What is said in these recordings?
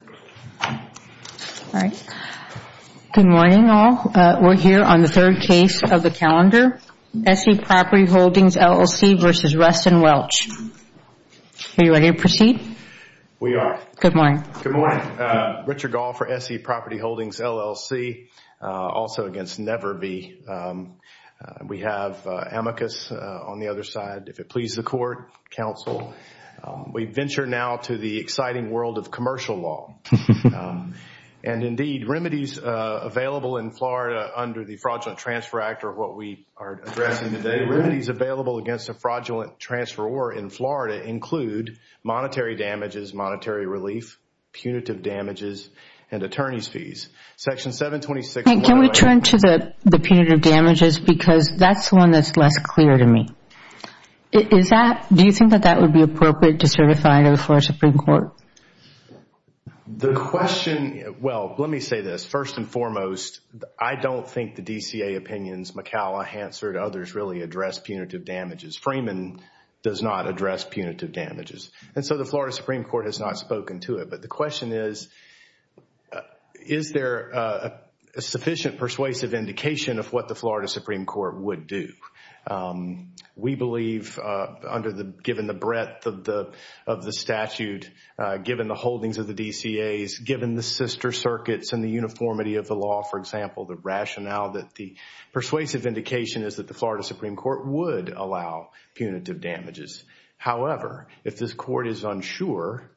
All right. Good morning, all. We're here on the third case of the calendar. S.E. Property Holdings, LLC v. Ruston Welch. Are you ready to proceed? We are. Good morning. Good morning. Richard Gahl for S.E. Property Holdings, LLC, also against Neverve. We have Amicus on the other side, if it pleases the court, counsel. We venture now to the exciting world of commercial law. Indeed, remedies available in Florida under the Fraudulent Transfer Act, or what we are addressing today, remedies available against a fraudulent transferor in Florida include monetary damages, monetary relief, punitive damages, and attorney's fees. Section 726… Can we turn to the punitive damages because that's the one that's less clear to me. Do you think that that would be appropriate to certify to the Florida Supreme Court? The question… Well, let me say this. First and foremost, I don't think the DCA opinions, McCalla, Hansard, others, really address punitive damages. Freeman does not address punitive damages. And so the Florida Supreme Court has not spoken to it. But the question is, is there a sufficient persuasive indication of what the Florida Supreme Court would do? We believe given the breadth of the statute, given the holdings of the DCAs, given the sister circuits and the uniformity of the law, for example, the rationale that the persuasive indication is that the Florida Supreme Court would allow punitive damages. However, if this court is unsure,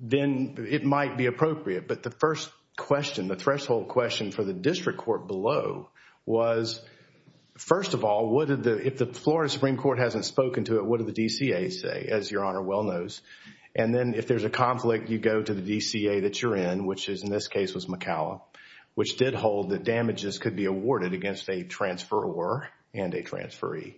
then it might be appropriate. But the first question, the threshold question for the district court below was, first of all, if the Florida Supreme Court hasn't spoken to it, what do the DCAs say? As Your Honor well knows. And then if there's a conflict, you go to the DCA that you're in, which in this case was McCalla, which did hold that damages could be awarded against a transferor and a transferee.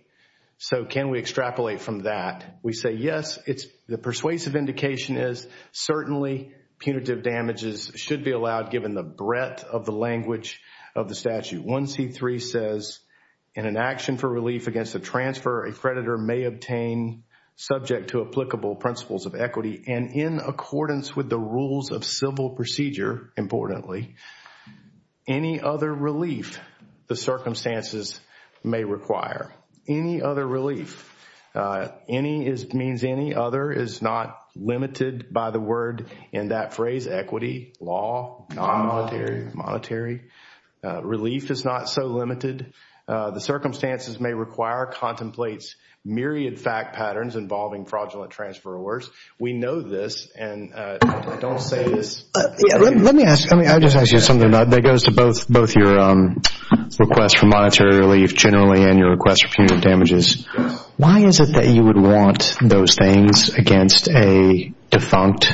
So can we extrapolate from that? We say yes. The persuasive indication is certainly punitive damages should be allowed given the breadth of the language of the statute. 1C3 says, in an action for relief against a transfer, a creditor may obtain, subject to applicable principles of equity, and in accordance with the rules of civil procedure, importantly, any other relief the circumstances may require. Any other relief. Any means any. Other is not limited by the word in that phrase, equity, law, non-monetary. Relief is not so limited. The circumstances may require contemplates myriad fact patterns involving fraudulent transferors. We know this, and I don't say this. Let me ask you something that goes to both your request for monetary relief generally and your request for punitive damages. Why is it that you would want those things against a defunct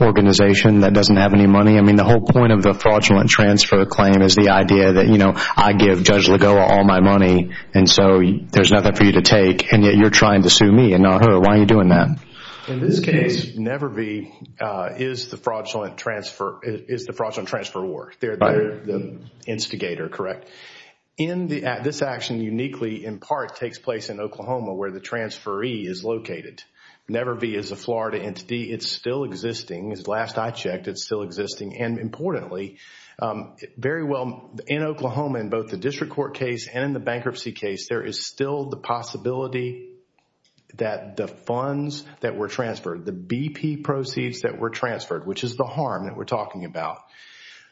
organization that doesn't have any money? I mean, the whole point of the fraudulent transfer claim is the idea that, you know, I give Judge Lagoa all my money, and so there's nothing for you to take, and yet you're trying to sue me and not her. Why are you doing that? In this case, Nevervee is the fraudulent transferor. They're the instigator, correct? This action uniquely, in part, takes place in Oklahoma where the transferee is located. Nevervee is a Florida entity. It's still existing. Last I checked, it's still existing. And importantly, very well, in Oklahoma, in both the district court case and in the bankruptcy case, there is still the possibility that the funds that were transferred, the BP proceeds that were transferred, which is the harm that we're talking about,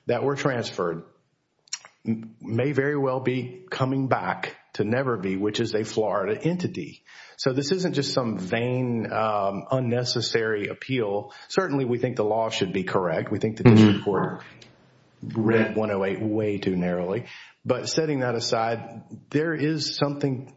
that were transferred may very well be coming back to Nevervee, which is a Florida entity. So this isn't just some vain, unnecessary appeal. Certainly, we think the law should be correct. We think the district court read 108 way too narrowly. But setting that aside, there is something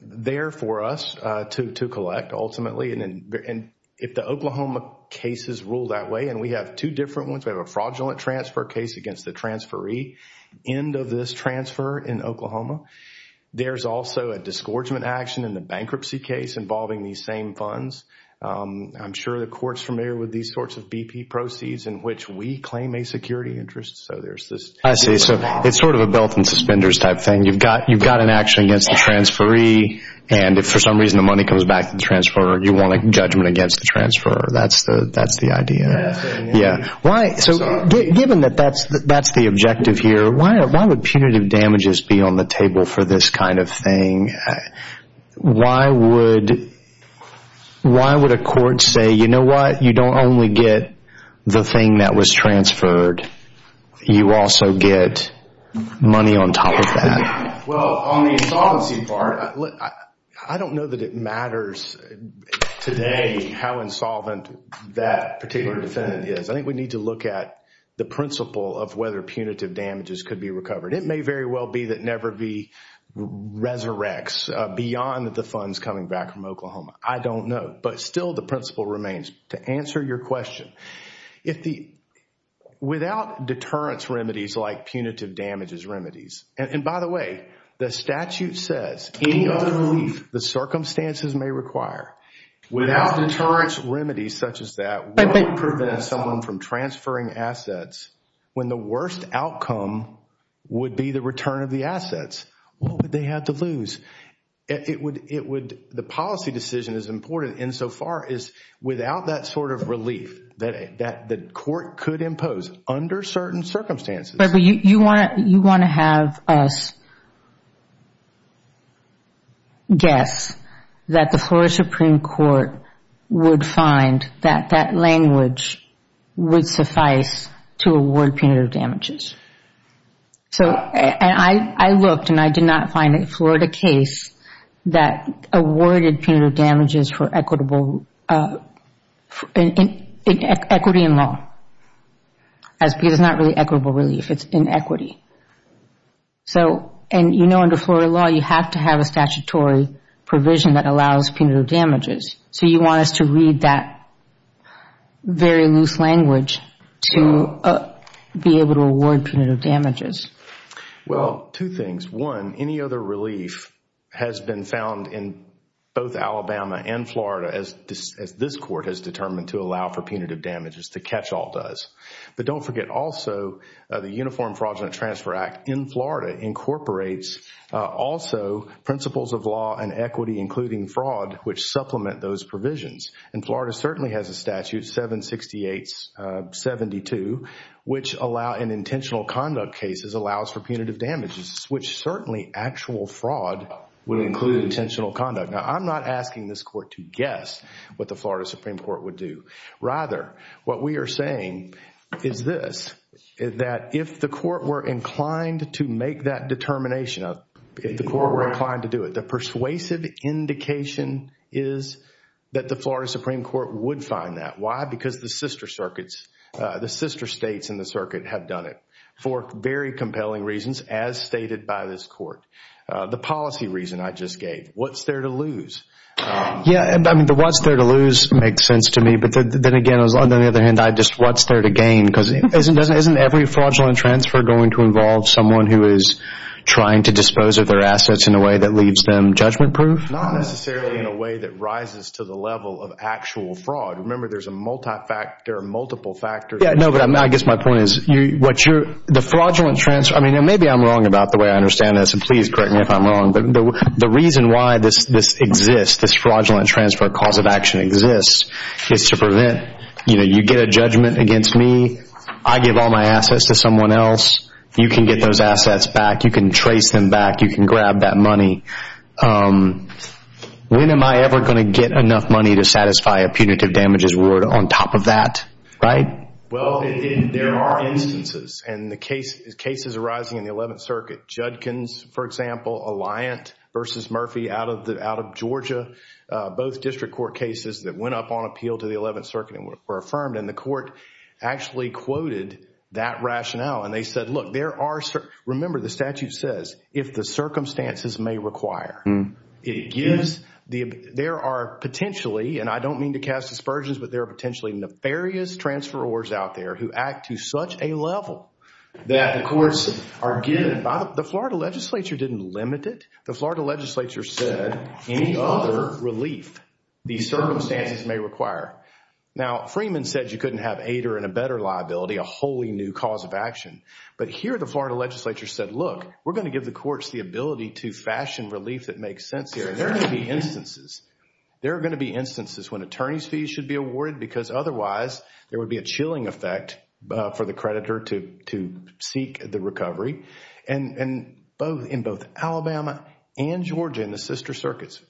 there for us to collect, ultimately. And if the Oklahoma cases rule that way, and we have two different ones, we have a fraudulent transfer case against the transferee, end of this transfer in Oklahoma. There's also a disgorgement action in the bankruptcy case involving these same funds. I'm sure the court's familiar with these sorts of BP proceeds in which we claim a security interest. I see. So it's sort of a belt and suspenders type thing. You've got an action against the transferee, and if for some reason the money comes back to the transfer, you want a judgment against the transfer. That's the idea. Yeah. So given that that's the objective here, why would punitive damages be on the table for this kind of thing? Why would a court say, you know what? You don't only get the thing that was transferred. You also get money on top of that. Well, on the insolvency part, I don't know that it matters today how insolvent that particular defendant is. I think we need to look at the principle of whether punitive damages could be recovered. It may very well be that never be resurrects beyond the funds coming back from Oklahoma. I don't know, but still the principle remains. To answer your question, without deterrence remedies like punitive damages remedies, and by the way, the statute says any other relief the circumstances may require, without deterrence remedies such as that, what would prevent someone from transferring assets when the worst outcome would be the return of the assets? What would they have to lose? The policy decision is important insofar as without that sort of relief that the court could impose under certain circumstances. You want to have us guess that the Florida Supreme Court would find that that language would suffice to award punitive damages. So I looked, and I did not find a Florida case that awarded punitive damages for equity in law. It's not really equitable relief. It's inequity. You know under Florida law, you have to have a statutory provision that allows punitive damages. So you want us to read that very loose language to be able to award punitive damages. Well, two things. One, any other relief has been found in both Alabama and Florida, as this court has determined to allow for punitive damages, the catch-all does. But don't forget also the Uniform Fraudulent Transfer Act in Florida incorporates also principles of law and equity, including fraud, which supplement those provisions. And Florida certainly has a statute, 768-72, which allow in intentional conduct cases allows for punitive damages, which certainly actual fraud would include intentional conduct. Now, I'm not asking this court to guess what the Florida Supreme Court would do. Rather, what we are saying is this, that if the court were inclined to make that determination, if the court were inclined to do it, the persuasive indication is that the Florida Supreme Court would find that. Why? Because the sister circuits, the sister states in the circuit have done it for very compelling reasons, as stated by this court. The policy reason I just gave, what's there to lose? Yeah, I mean, the what's there to lose makes sense to me. But then again, on the other hand, just what's there to gain? Because isn't every fraudulent transfer going to involve someone who is trying to dispose of their assets in a way that leaves them judgment-proof? Not necessarily in a way that rises to the level of actual fraud. Remember, there are multiple factors. Yeah, no, but I guess my point is, the fraudulent transfer, I mean, maybe I'm wrong about the way I understand this, and please correct me if I'm wrong, but the reason why this exists, this fraudulent transfer cause of action exists, is to prevent, you know, you get a judgment against me, I give all my assets to someone else, you can get those assets back, you can trace them back, you can grab that money. When am I ever going to get enough money to satisfy a punitive damages reward on top of that, right? Well, there are instances, and the cases arising in the 11th Circuit, Judkins, for example, Alliant v. Murphy out of Georgia, both district court cases that went up on appeal to the 11th Circuit and were affirmed, and the court actually quoted that rationale, and they said, look, there are, remember the statute says, if the circumstances may require, it gives, there are potentially, and I don't mean to cast aspersions, but there are potentially nefarious transferors out there who act to such a level that the courts are given, the Florida Legislature didn't limit it, the Florida Legislature said, any other relief the circumstances may require. Now, Freeman said you couldn't have ADER and a better liability, a wholly new cause of action, but here the Florida Legislature said, look, we're going to give the courts the ability to fashion relief that makes sense here, and there are going to be instances, there are going to be instances when attorney's fees should be awarded because otherwise there would be a chilling effect for the creditor to seek the recovery, and in both Alabama and Georgia in the sister circuits,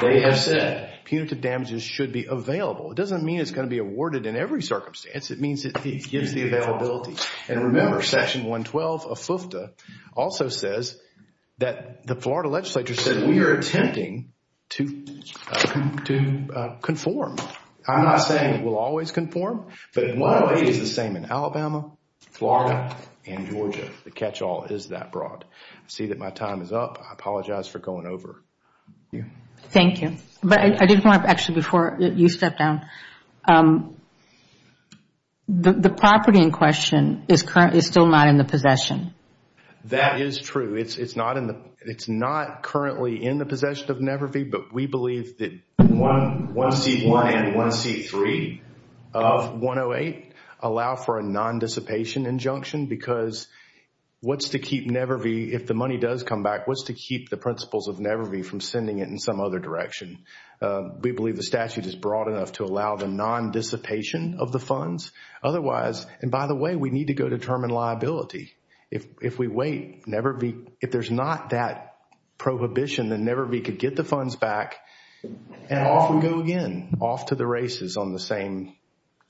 they have said punitive damages should be available. It doesn't mean it's going to be awarded in every circumstance, it means it gives the availability. And remember, Section 112 of FFTA also says that the Florida Legislature said we are attempting to conform. I'm not saying it will always conform, but in one way it is the same in Alabama, Florida, and Georgia. The catch-all is that broad. I see that my time is up. I apologize for going over. Thank you. But I did want to, actually, before you step down, the property in question is still not in the possession. That is true. It's not currently in the possession of Never V, but we believe that 1C1 and 1C3 of 108 allow for a non-dissipation injunction because what's to keep Never V, if the money does come back, what's to keep the principles of Never V from sending it in some other direction? We believe the statute is broad enough to allow the non-dissipation of the funds. Otherwise, and by the way, we need to go determine liability. If we wait, Never V, if there's not that prohibition, then Never V could get the funds back and off we go again, off to the races on the same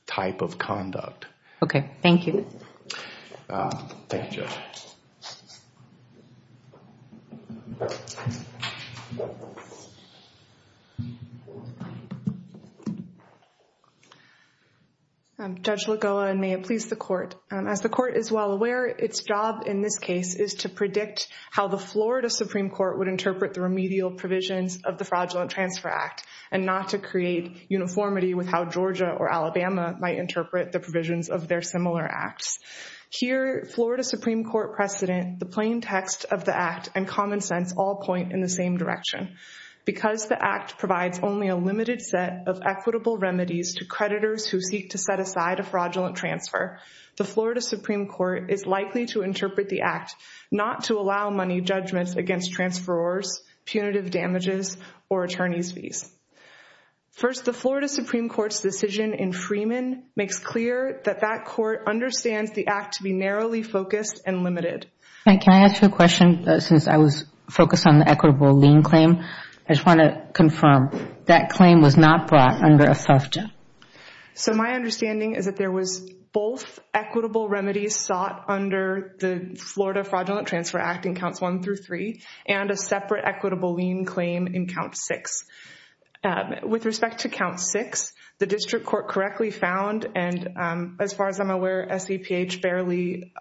type of conduct. Okay, thank you. Thank you, Jill. Judge Lagoa, and may it please the Court. As the Court is well aware, its job in this case is to predict how the Florida Supreme Court would interpret the remedial provisions of the Fraudulent Transfer Act and not to create uniformity with how Georgia or Alabama might interpret the provisions of their similar acts. Here, Florida Supreme Court precedent, the plain text of the act, and common sense all point in the same direction. Because the act provides only a limited set of equitable remedies to creditors who seek to set aside a fraudulent transfer, the Florida Supreme Court is likely to interpret the act not to allow money judgments against transferors, punitive damages, or attorney's fees. First, the Florida Supreme Court's decision in Freeman makes clear that that Can I ask you a question? Since I was focused on the equitable lien claim, I just want to confirm, that claim was not brought under a FFTA? So my understanding is that there was both equitable remedies sought under the Florida Fraudulent Transfer Act in Counts 1 through 3 and a separate equitable lien claim in Count 6. With respect to Count 6, the district court correctly found, and as far as I'm aware, SEPH barely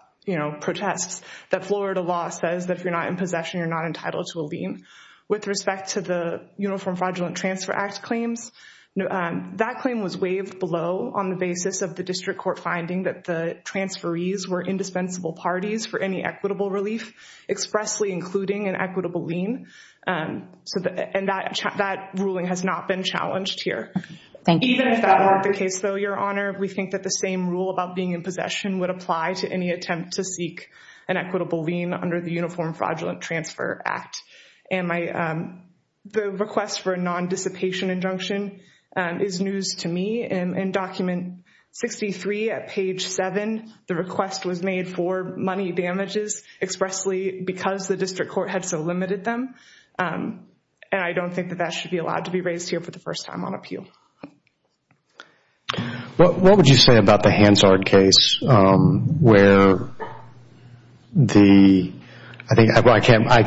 protests that Florida law says that if you're not in possession, you're not entitled to a lien. With respect to the Uniform Fraudulent Transfer Act claims, that claim was waived below on the basis of the district court finding that the transferees were indispensable parties for any equitable relief, expressly including an equitable lien, and that ruling has not been challenged here. Thank you. Even if that weren't the case, though, Your Honor, we think that the same rule about being in possession would apply to any attempt to seek an equitable lien under the Uniform Fraudulent Transfer Act. And the request for a non-dissipation injunction is news to me. In Document 63 at page 7, the request was made for money damages expressly because the district court had so limited them, and I don't think that that should be allowed to be raised here for the first time on appeal. What would you say about the Hansard case where the –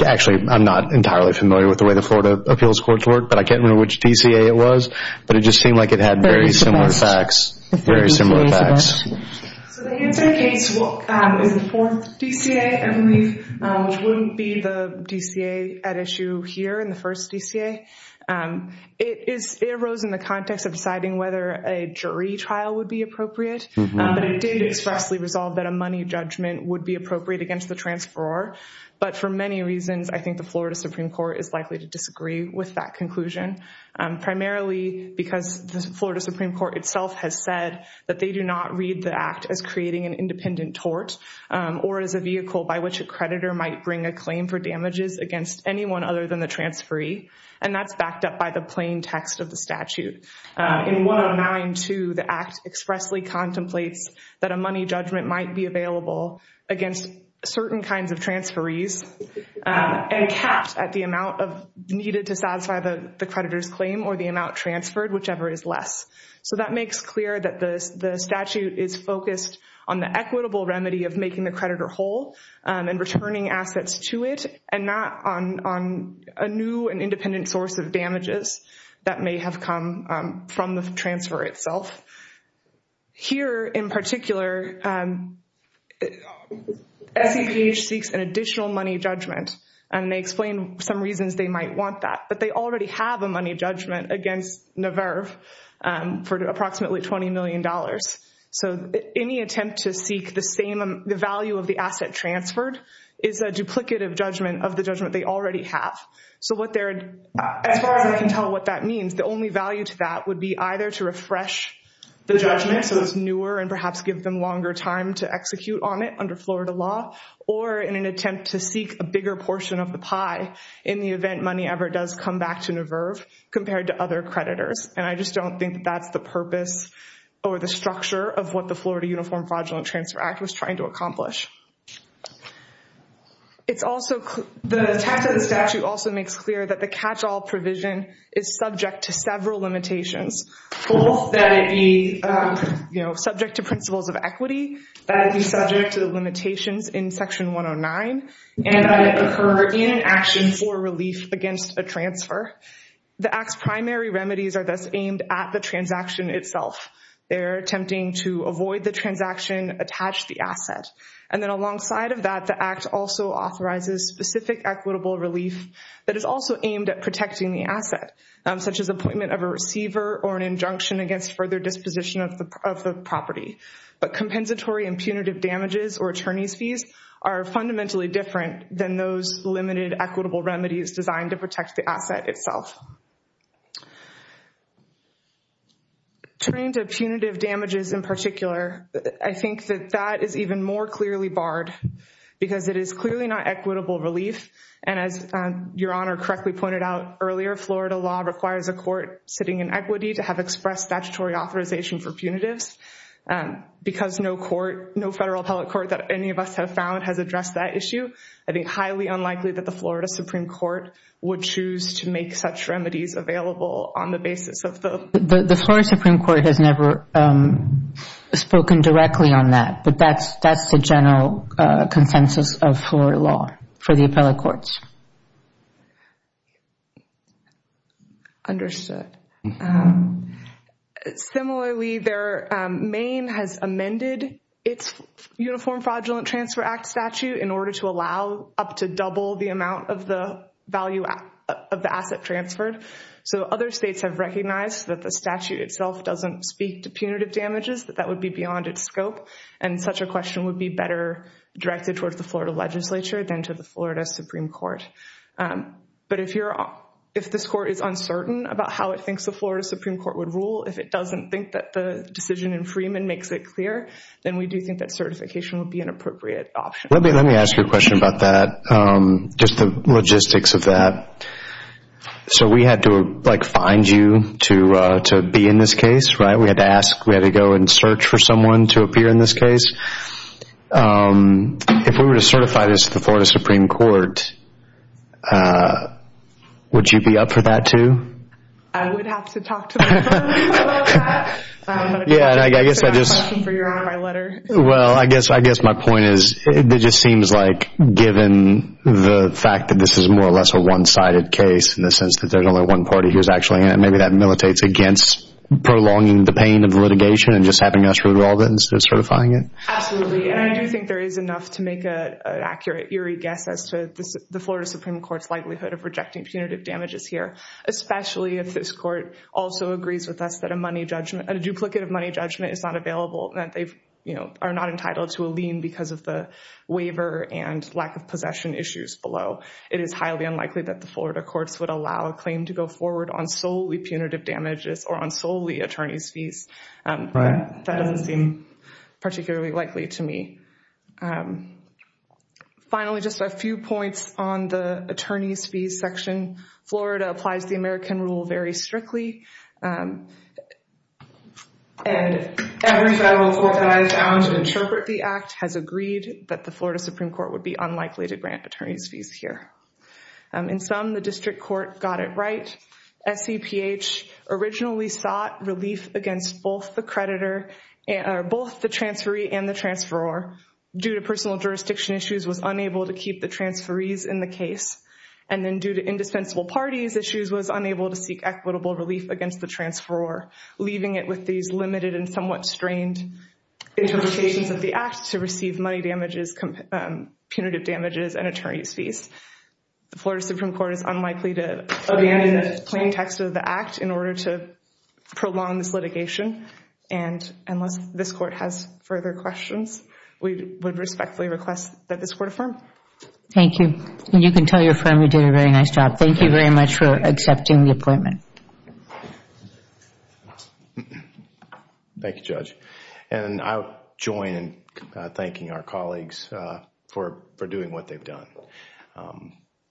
actually, I'm not entirely familiar with the way the Florida Appeals Courts work, but I can't remember which DCA it was, but it just seemed like it had very similar facts. So the Hansard case is the fourth DCA, I believe, which wouldn't be the DCA at issue here in the first DCA. It arose in the context of deciding whether a jury trial would be appropriate, but it did expressly resolve that a money judgment would be appropriate against the transferor. But for many reasons, I think the Florida Supreme Court is likely to disagree with that conclusion, primarily because the Florida Supreme Court itself has said that they do not read the act as creating an independent tort or as a vehicle by which a creditor might bring a claim for damages against anyone other than the transferee, and that's backed up by the plain text of the statute. In 109-2, the act expressly contemplates that a money judgment might be available against certain kinds of transferees and capped at the amount needed to satisfy the creditor's claim or the amount transferred, whichever is less. So that makes clear that the statute is focused on the equitable remedy of making the creditor whole and returning assets to it and not on a new and independent source of damages that may have come from the transfer itself. Here in particular, SEPH seeks an additional money judgment, and they explain some reasons they might want that, but they already have a money judgment against Naverve for approximately $20 million. So any attempt to seek the value of the asset transferred is a duplicative judgment of the judgment they already have. So as far as I can tell what that means, the only value to that would be either to refresh the judgment so it's newer and perhaps give them longer time to execute on it under Florida law or in an attempt to seek a bigger portion of the pie in the event money ever does come back to Naverve compared to other creditors. And I just don't think that that's the purpose or the structure of what the Florida Uniform Fraudulent Transfer Act was trying to accomplish. The text of the statute also makes clear that the catch-all provision is subject to several limitations, both that it be subject to principles of equity, that it be subject to the limitations in Section 109, and that it occur in an action for relief against a transfer. The Act's primary remedies are thus aimed at the transaction itself. They're attempting to avoid the transaction, attach the asset. And then alongside of that, the Act also authorizes specific equitable relief that is also aimed at protecting the asset, such as appointment of a receiver or an injunction against further disposition of the property. But compensatory and punitive damages or attorney's fees are fundamentally different than those limited equitable remedies designed to protect the asset itself. Turning to punitive damages in particular, I think that that is even more clearly barred because it is clearly not equitable relief. And as Your Honor correctly pointed out earlier, Florida law requires a court sitting in equity to have expressed statutory authorization for punitives because no federal appellate court that any of us have found has addressed that issue. I think highly unlikely that the Florida Supreme Court would choose to make such remedies available on the basis of the... The Florida Supreme Court has never spoken directly on that, but that's the general consensus of Florida law for the appellate courts. Understood. Similarly, Maine has amended its Uniform Fraudulent Transfer Act statute in order to allow up to double the amount of the value of the asset transferred. So other states have recognized that the statute itself doesn't speak to punitive damages, that that would be beyond its scope. And such a question would be better directed towards the Florida legislature than to the Florida Supreme Court. But if this court is uncertain about how it thinks the Florida Supreme Court would rule, if it doesn't think that the decision in Freeman makes it clear, then we do think that certification would be an appropriate option. Let me ask you a question about that, just the logistics of that. So we had to find you to be in this case, right? We had to ask, we had to go and search for someone to appear in this case. If we were to certify this to the Florida Supreme Court, would you be up for that too? I would have to talk to the court about that. I don't know if that's a question for you or my letter. Well, I guess my point is it just seems like given the fact that this is more or less a one-sided case in the sense that there's only one party who's actually in it, maybe that militates against prolonging the pain of litigation and just having us revolve it instead of certifying it. Absolutely, and I do think there is enough to make an accurate, eerie guess as to the Florida Supreme Court's likelihood of rejecting punitive damages here, especially if this court also agrees with us that a duplicate of money judgment is not available, that they are not entitled to a lien because of the waiver and lack of possession issues below. It is highly unlikely that the Florida courts would allow a claim to go forward on solely punitive damages or on solely attorney's fees. That doesn't seem particularly likely to me. Finally, just a few points on the attorney's fees section. Florida applies the American rule very strictly, and every federal court that has found to interpret the act has agreed that the Florida Supreme Court would be unlikely to grant attorney's fees here. In some, the district court got it right. SEPH originally sought relief against both the transferee and the transferor due to personal jurisdiction issues was unable to keep the transferees in the case, and then due to indispensable parties issues was unable to seek equitable relief against the transferor, leaving it with these limited and somewhat strained interpretations of the act to receive money damages, punitive damages, and attorney's fees. The Florida Supreme Court is unlikely to amend the plain text of the act in order to prolong this litigation, and unless this court has further questions, we would respectfully request that this court affirm. Thank you. You can tell your friend we did a very nice job. Thank you very much for accepting the appointment. Thank you, Judge. And I'll join in thanking our colleagues for doing what they've done.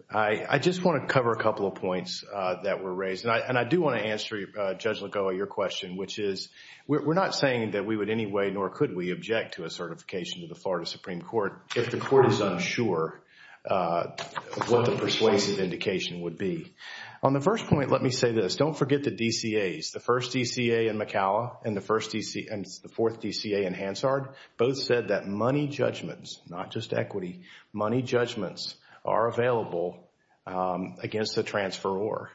I just want to cover a couple of points that were raised, and I do want to answer, Judge Lagoa, your question, which is we're not saying that we would in any way nor could we object to a certification to the Florida Supreme Court if the court is unsure what the persuasive indication would be. On the first point, let me say this. Don't forget the DCAs. The first DCA in McCalla and the fourth DCA in Hansard, both said that money judgments, not just equity, money judgments are available against the transferor.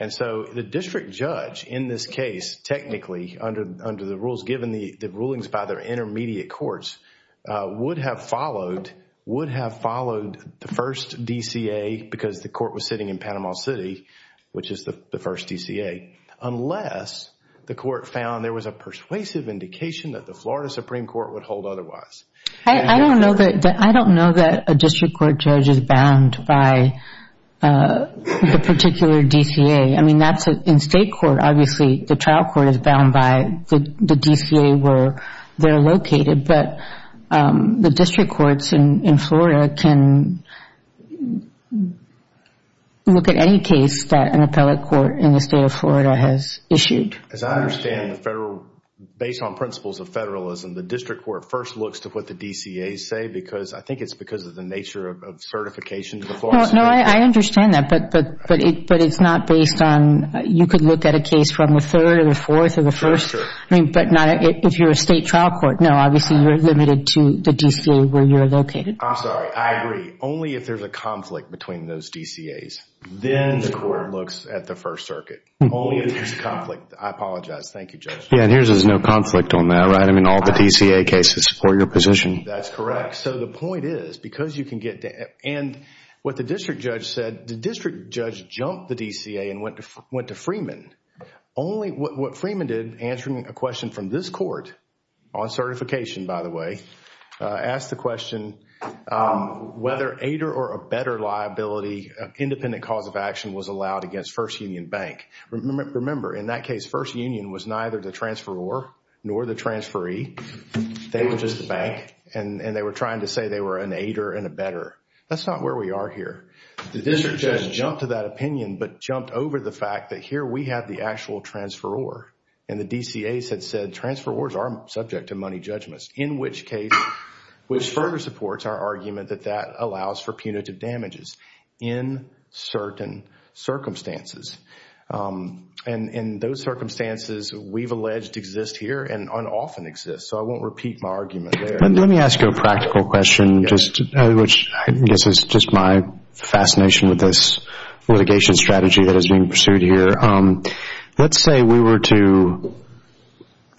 And so the district judge in this case, technically under the rules given the rulings by their intermediate courts, would have followed the first DCA because the court was sitting in Panama City, which is the first DCA, unless the court found there was a persuasive indication that the Florida Supreme Court would hold otherwise. I don't know that a district court judge is bound by the particular DCA. I mean, in state court, obviously, the trial court is bound by the DCA where they're located, but the district courts in Florida can look at any case that an appellate court in the state of Florida has issued. As I understand, based on principles of federalism, the district court first looks to what the DCAs say because, I think it's because of the nature of certification to the Florida Supreme Court. No, I understand that, but it's not based on, you could look at a case from the third or the fourth or the first, but not if you're a state trial court. No, obviously, you're limited to the DCA where you're located. I'm sorry. I agree. Only if there's a conflict between those DCAs, then the court looks at the First Circuit. Only if there's conflict. I apologize. Thank you, Judge. Yeah, and here there's no conflict on that, right? I mean, all the DCA cases support your position. That's correct. So the point is, because you can get, and what the district judge said, the district judge jumped the DCA and went to Freeman. Only what Freeman did, answering a question from this court, on certification, by the way, asked the question whether ADER or a better liability independent cause of action was allowed against First Union Bank. Remember, in that case, First Union was neither the transferor nor the transferee. They were just the bank, and they were trying to say they were an ADER and a better. That's not where we are here. The district judge jumped to that opinion, but jumped over the fact that here we have the actual transferor, and the DCAs had said transferors are subject to money judgments, in which case, which further supports our argument that that allows for punitive damages in certain circumstances. And in those circumstances, we've alleged to exist here and often exist. So I won't repeat my argument there. Let me ask you a practical question, which I guess is just my fascination with this litigation strategy that is being pursued here. Let's say we were to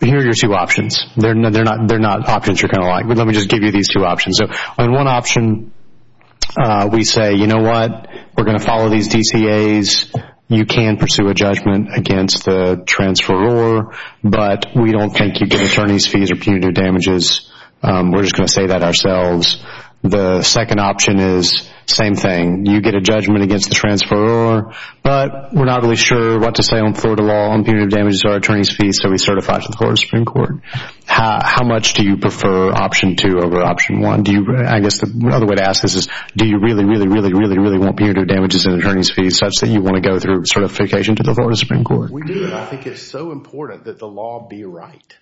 hear your two options. They're not options you're going to like, but let me just give you these two options. So on one option, we say, you know what? We're going to follow these DCAs. You can pursue a judgment against the transferor, but we don't think you get attorney's fees or punitive damages. We're just going to say that ourselves. The second option is, same thing. You get a judgment against the transferor, but we're not really sure what to say on Florida law on punitive damages or attorney's fees, so we certify to the Florida Supreme Court. How much do you prefer option two over option one? I guess the other way to ask this is, do you really, really, really, really, really want punitive damages and attorney's fees such that you want to go through certification to the Florida Supreme Court? We do. I think it's so important that the law be right.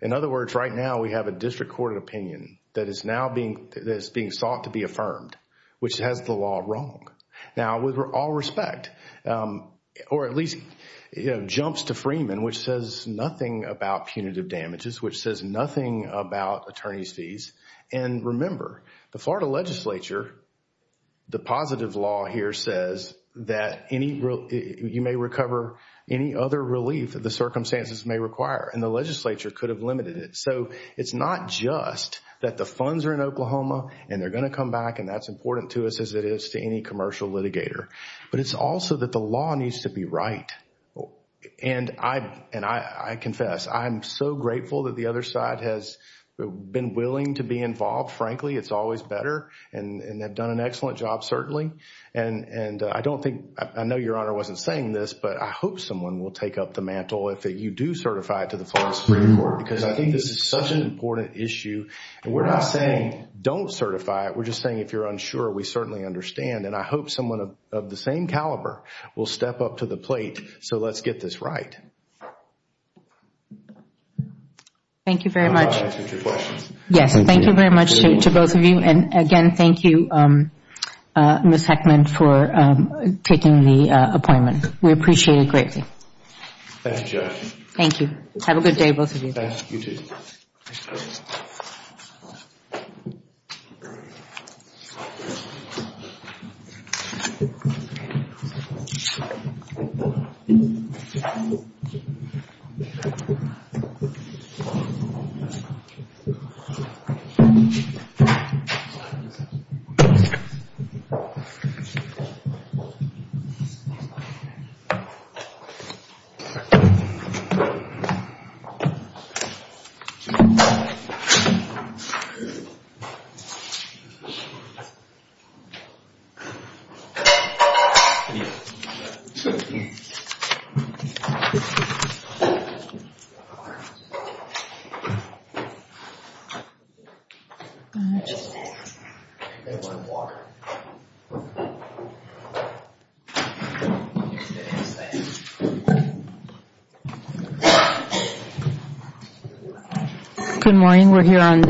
In other words, right now, we have a district court opinion that is now being, that is being sought to be affirmed, which has the law wrong. Now, with all respect, or at least, you know, jumps to Freeman, which says nothing about punitive damages, which says nothing about attorney's fees. And remember, the Florida legislature, the positive law here says that any, you may recover any other relief that the circumstances may require, and the legislature could have limited it. So, it's not just that the funds are in Oklahoma and they're going to come back, and that's important to us as it is to any commercial litigator. But it's also that the law needs to be right. And I confess, I'm so grateful that the other side has been willing to be involved. Frankly, it's always better, and they've done an excellent job, certainly. And I don't think, I know Your Honor wasn't saying this, but I hope someone will take up the mantle, if you do certify it to the Florida Supreme Court, because I think this is such an important issue. And we're not saying don't certify it, we're just saying if you're unsure, we certainly understand. And I hope someone of the same caliber will step up to the plate, so let's get this right. Thank you very much. Yes, thank you very much to both of you. And, again, thank you, Ms. Heckman, for taking the appointment. We appreciate it greatly. Thank you, Judge. Thank you. Have a good day, both of you. You too. Thank you. Thank you.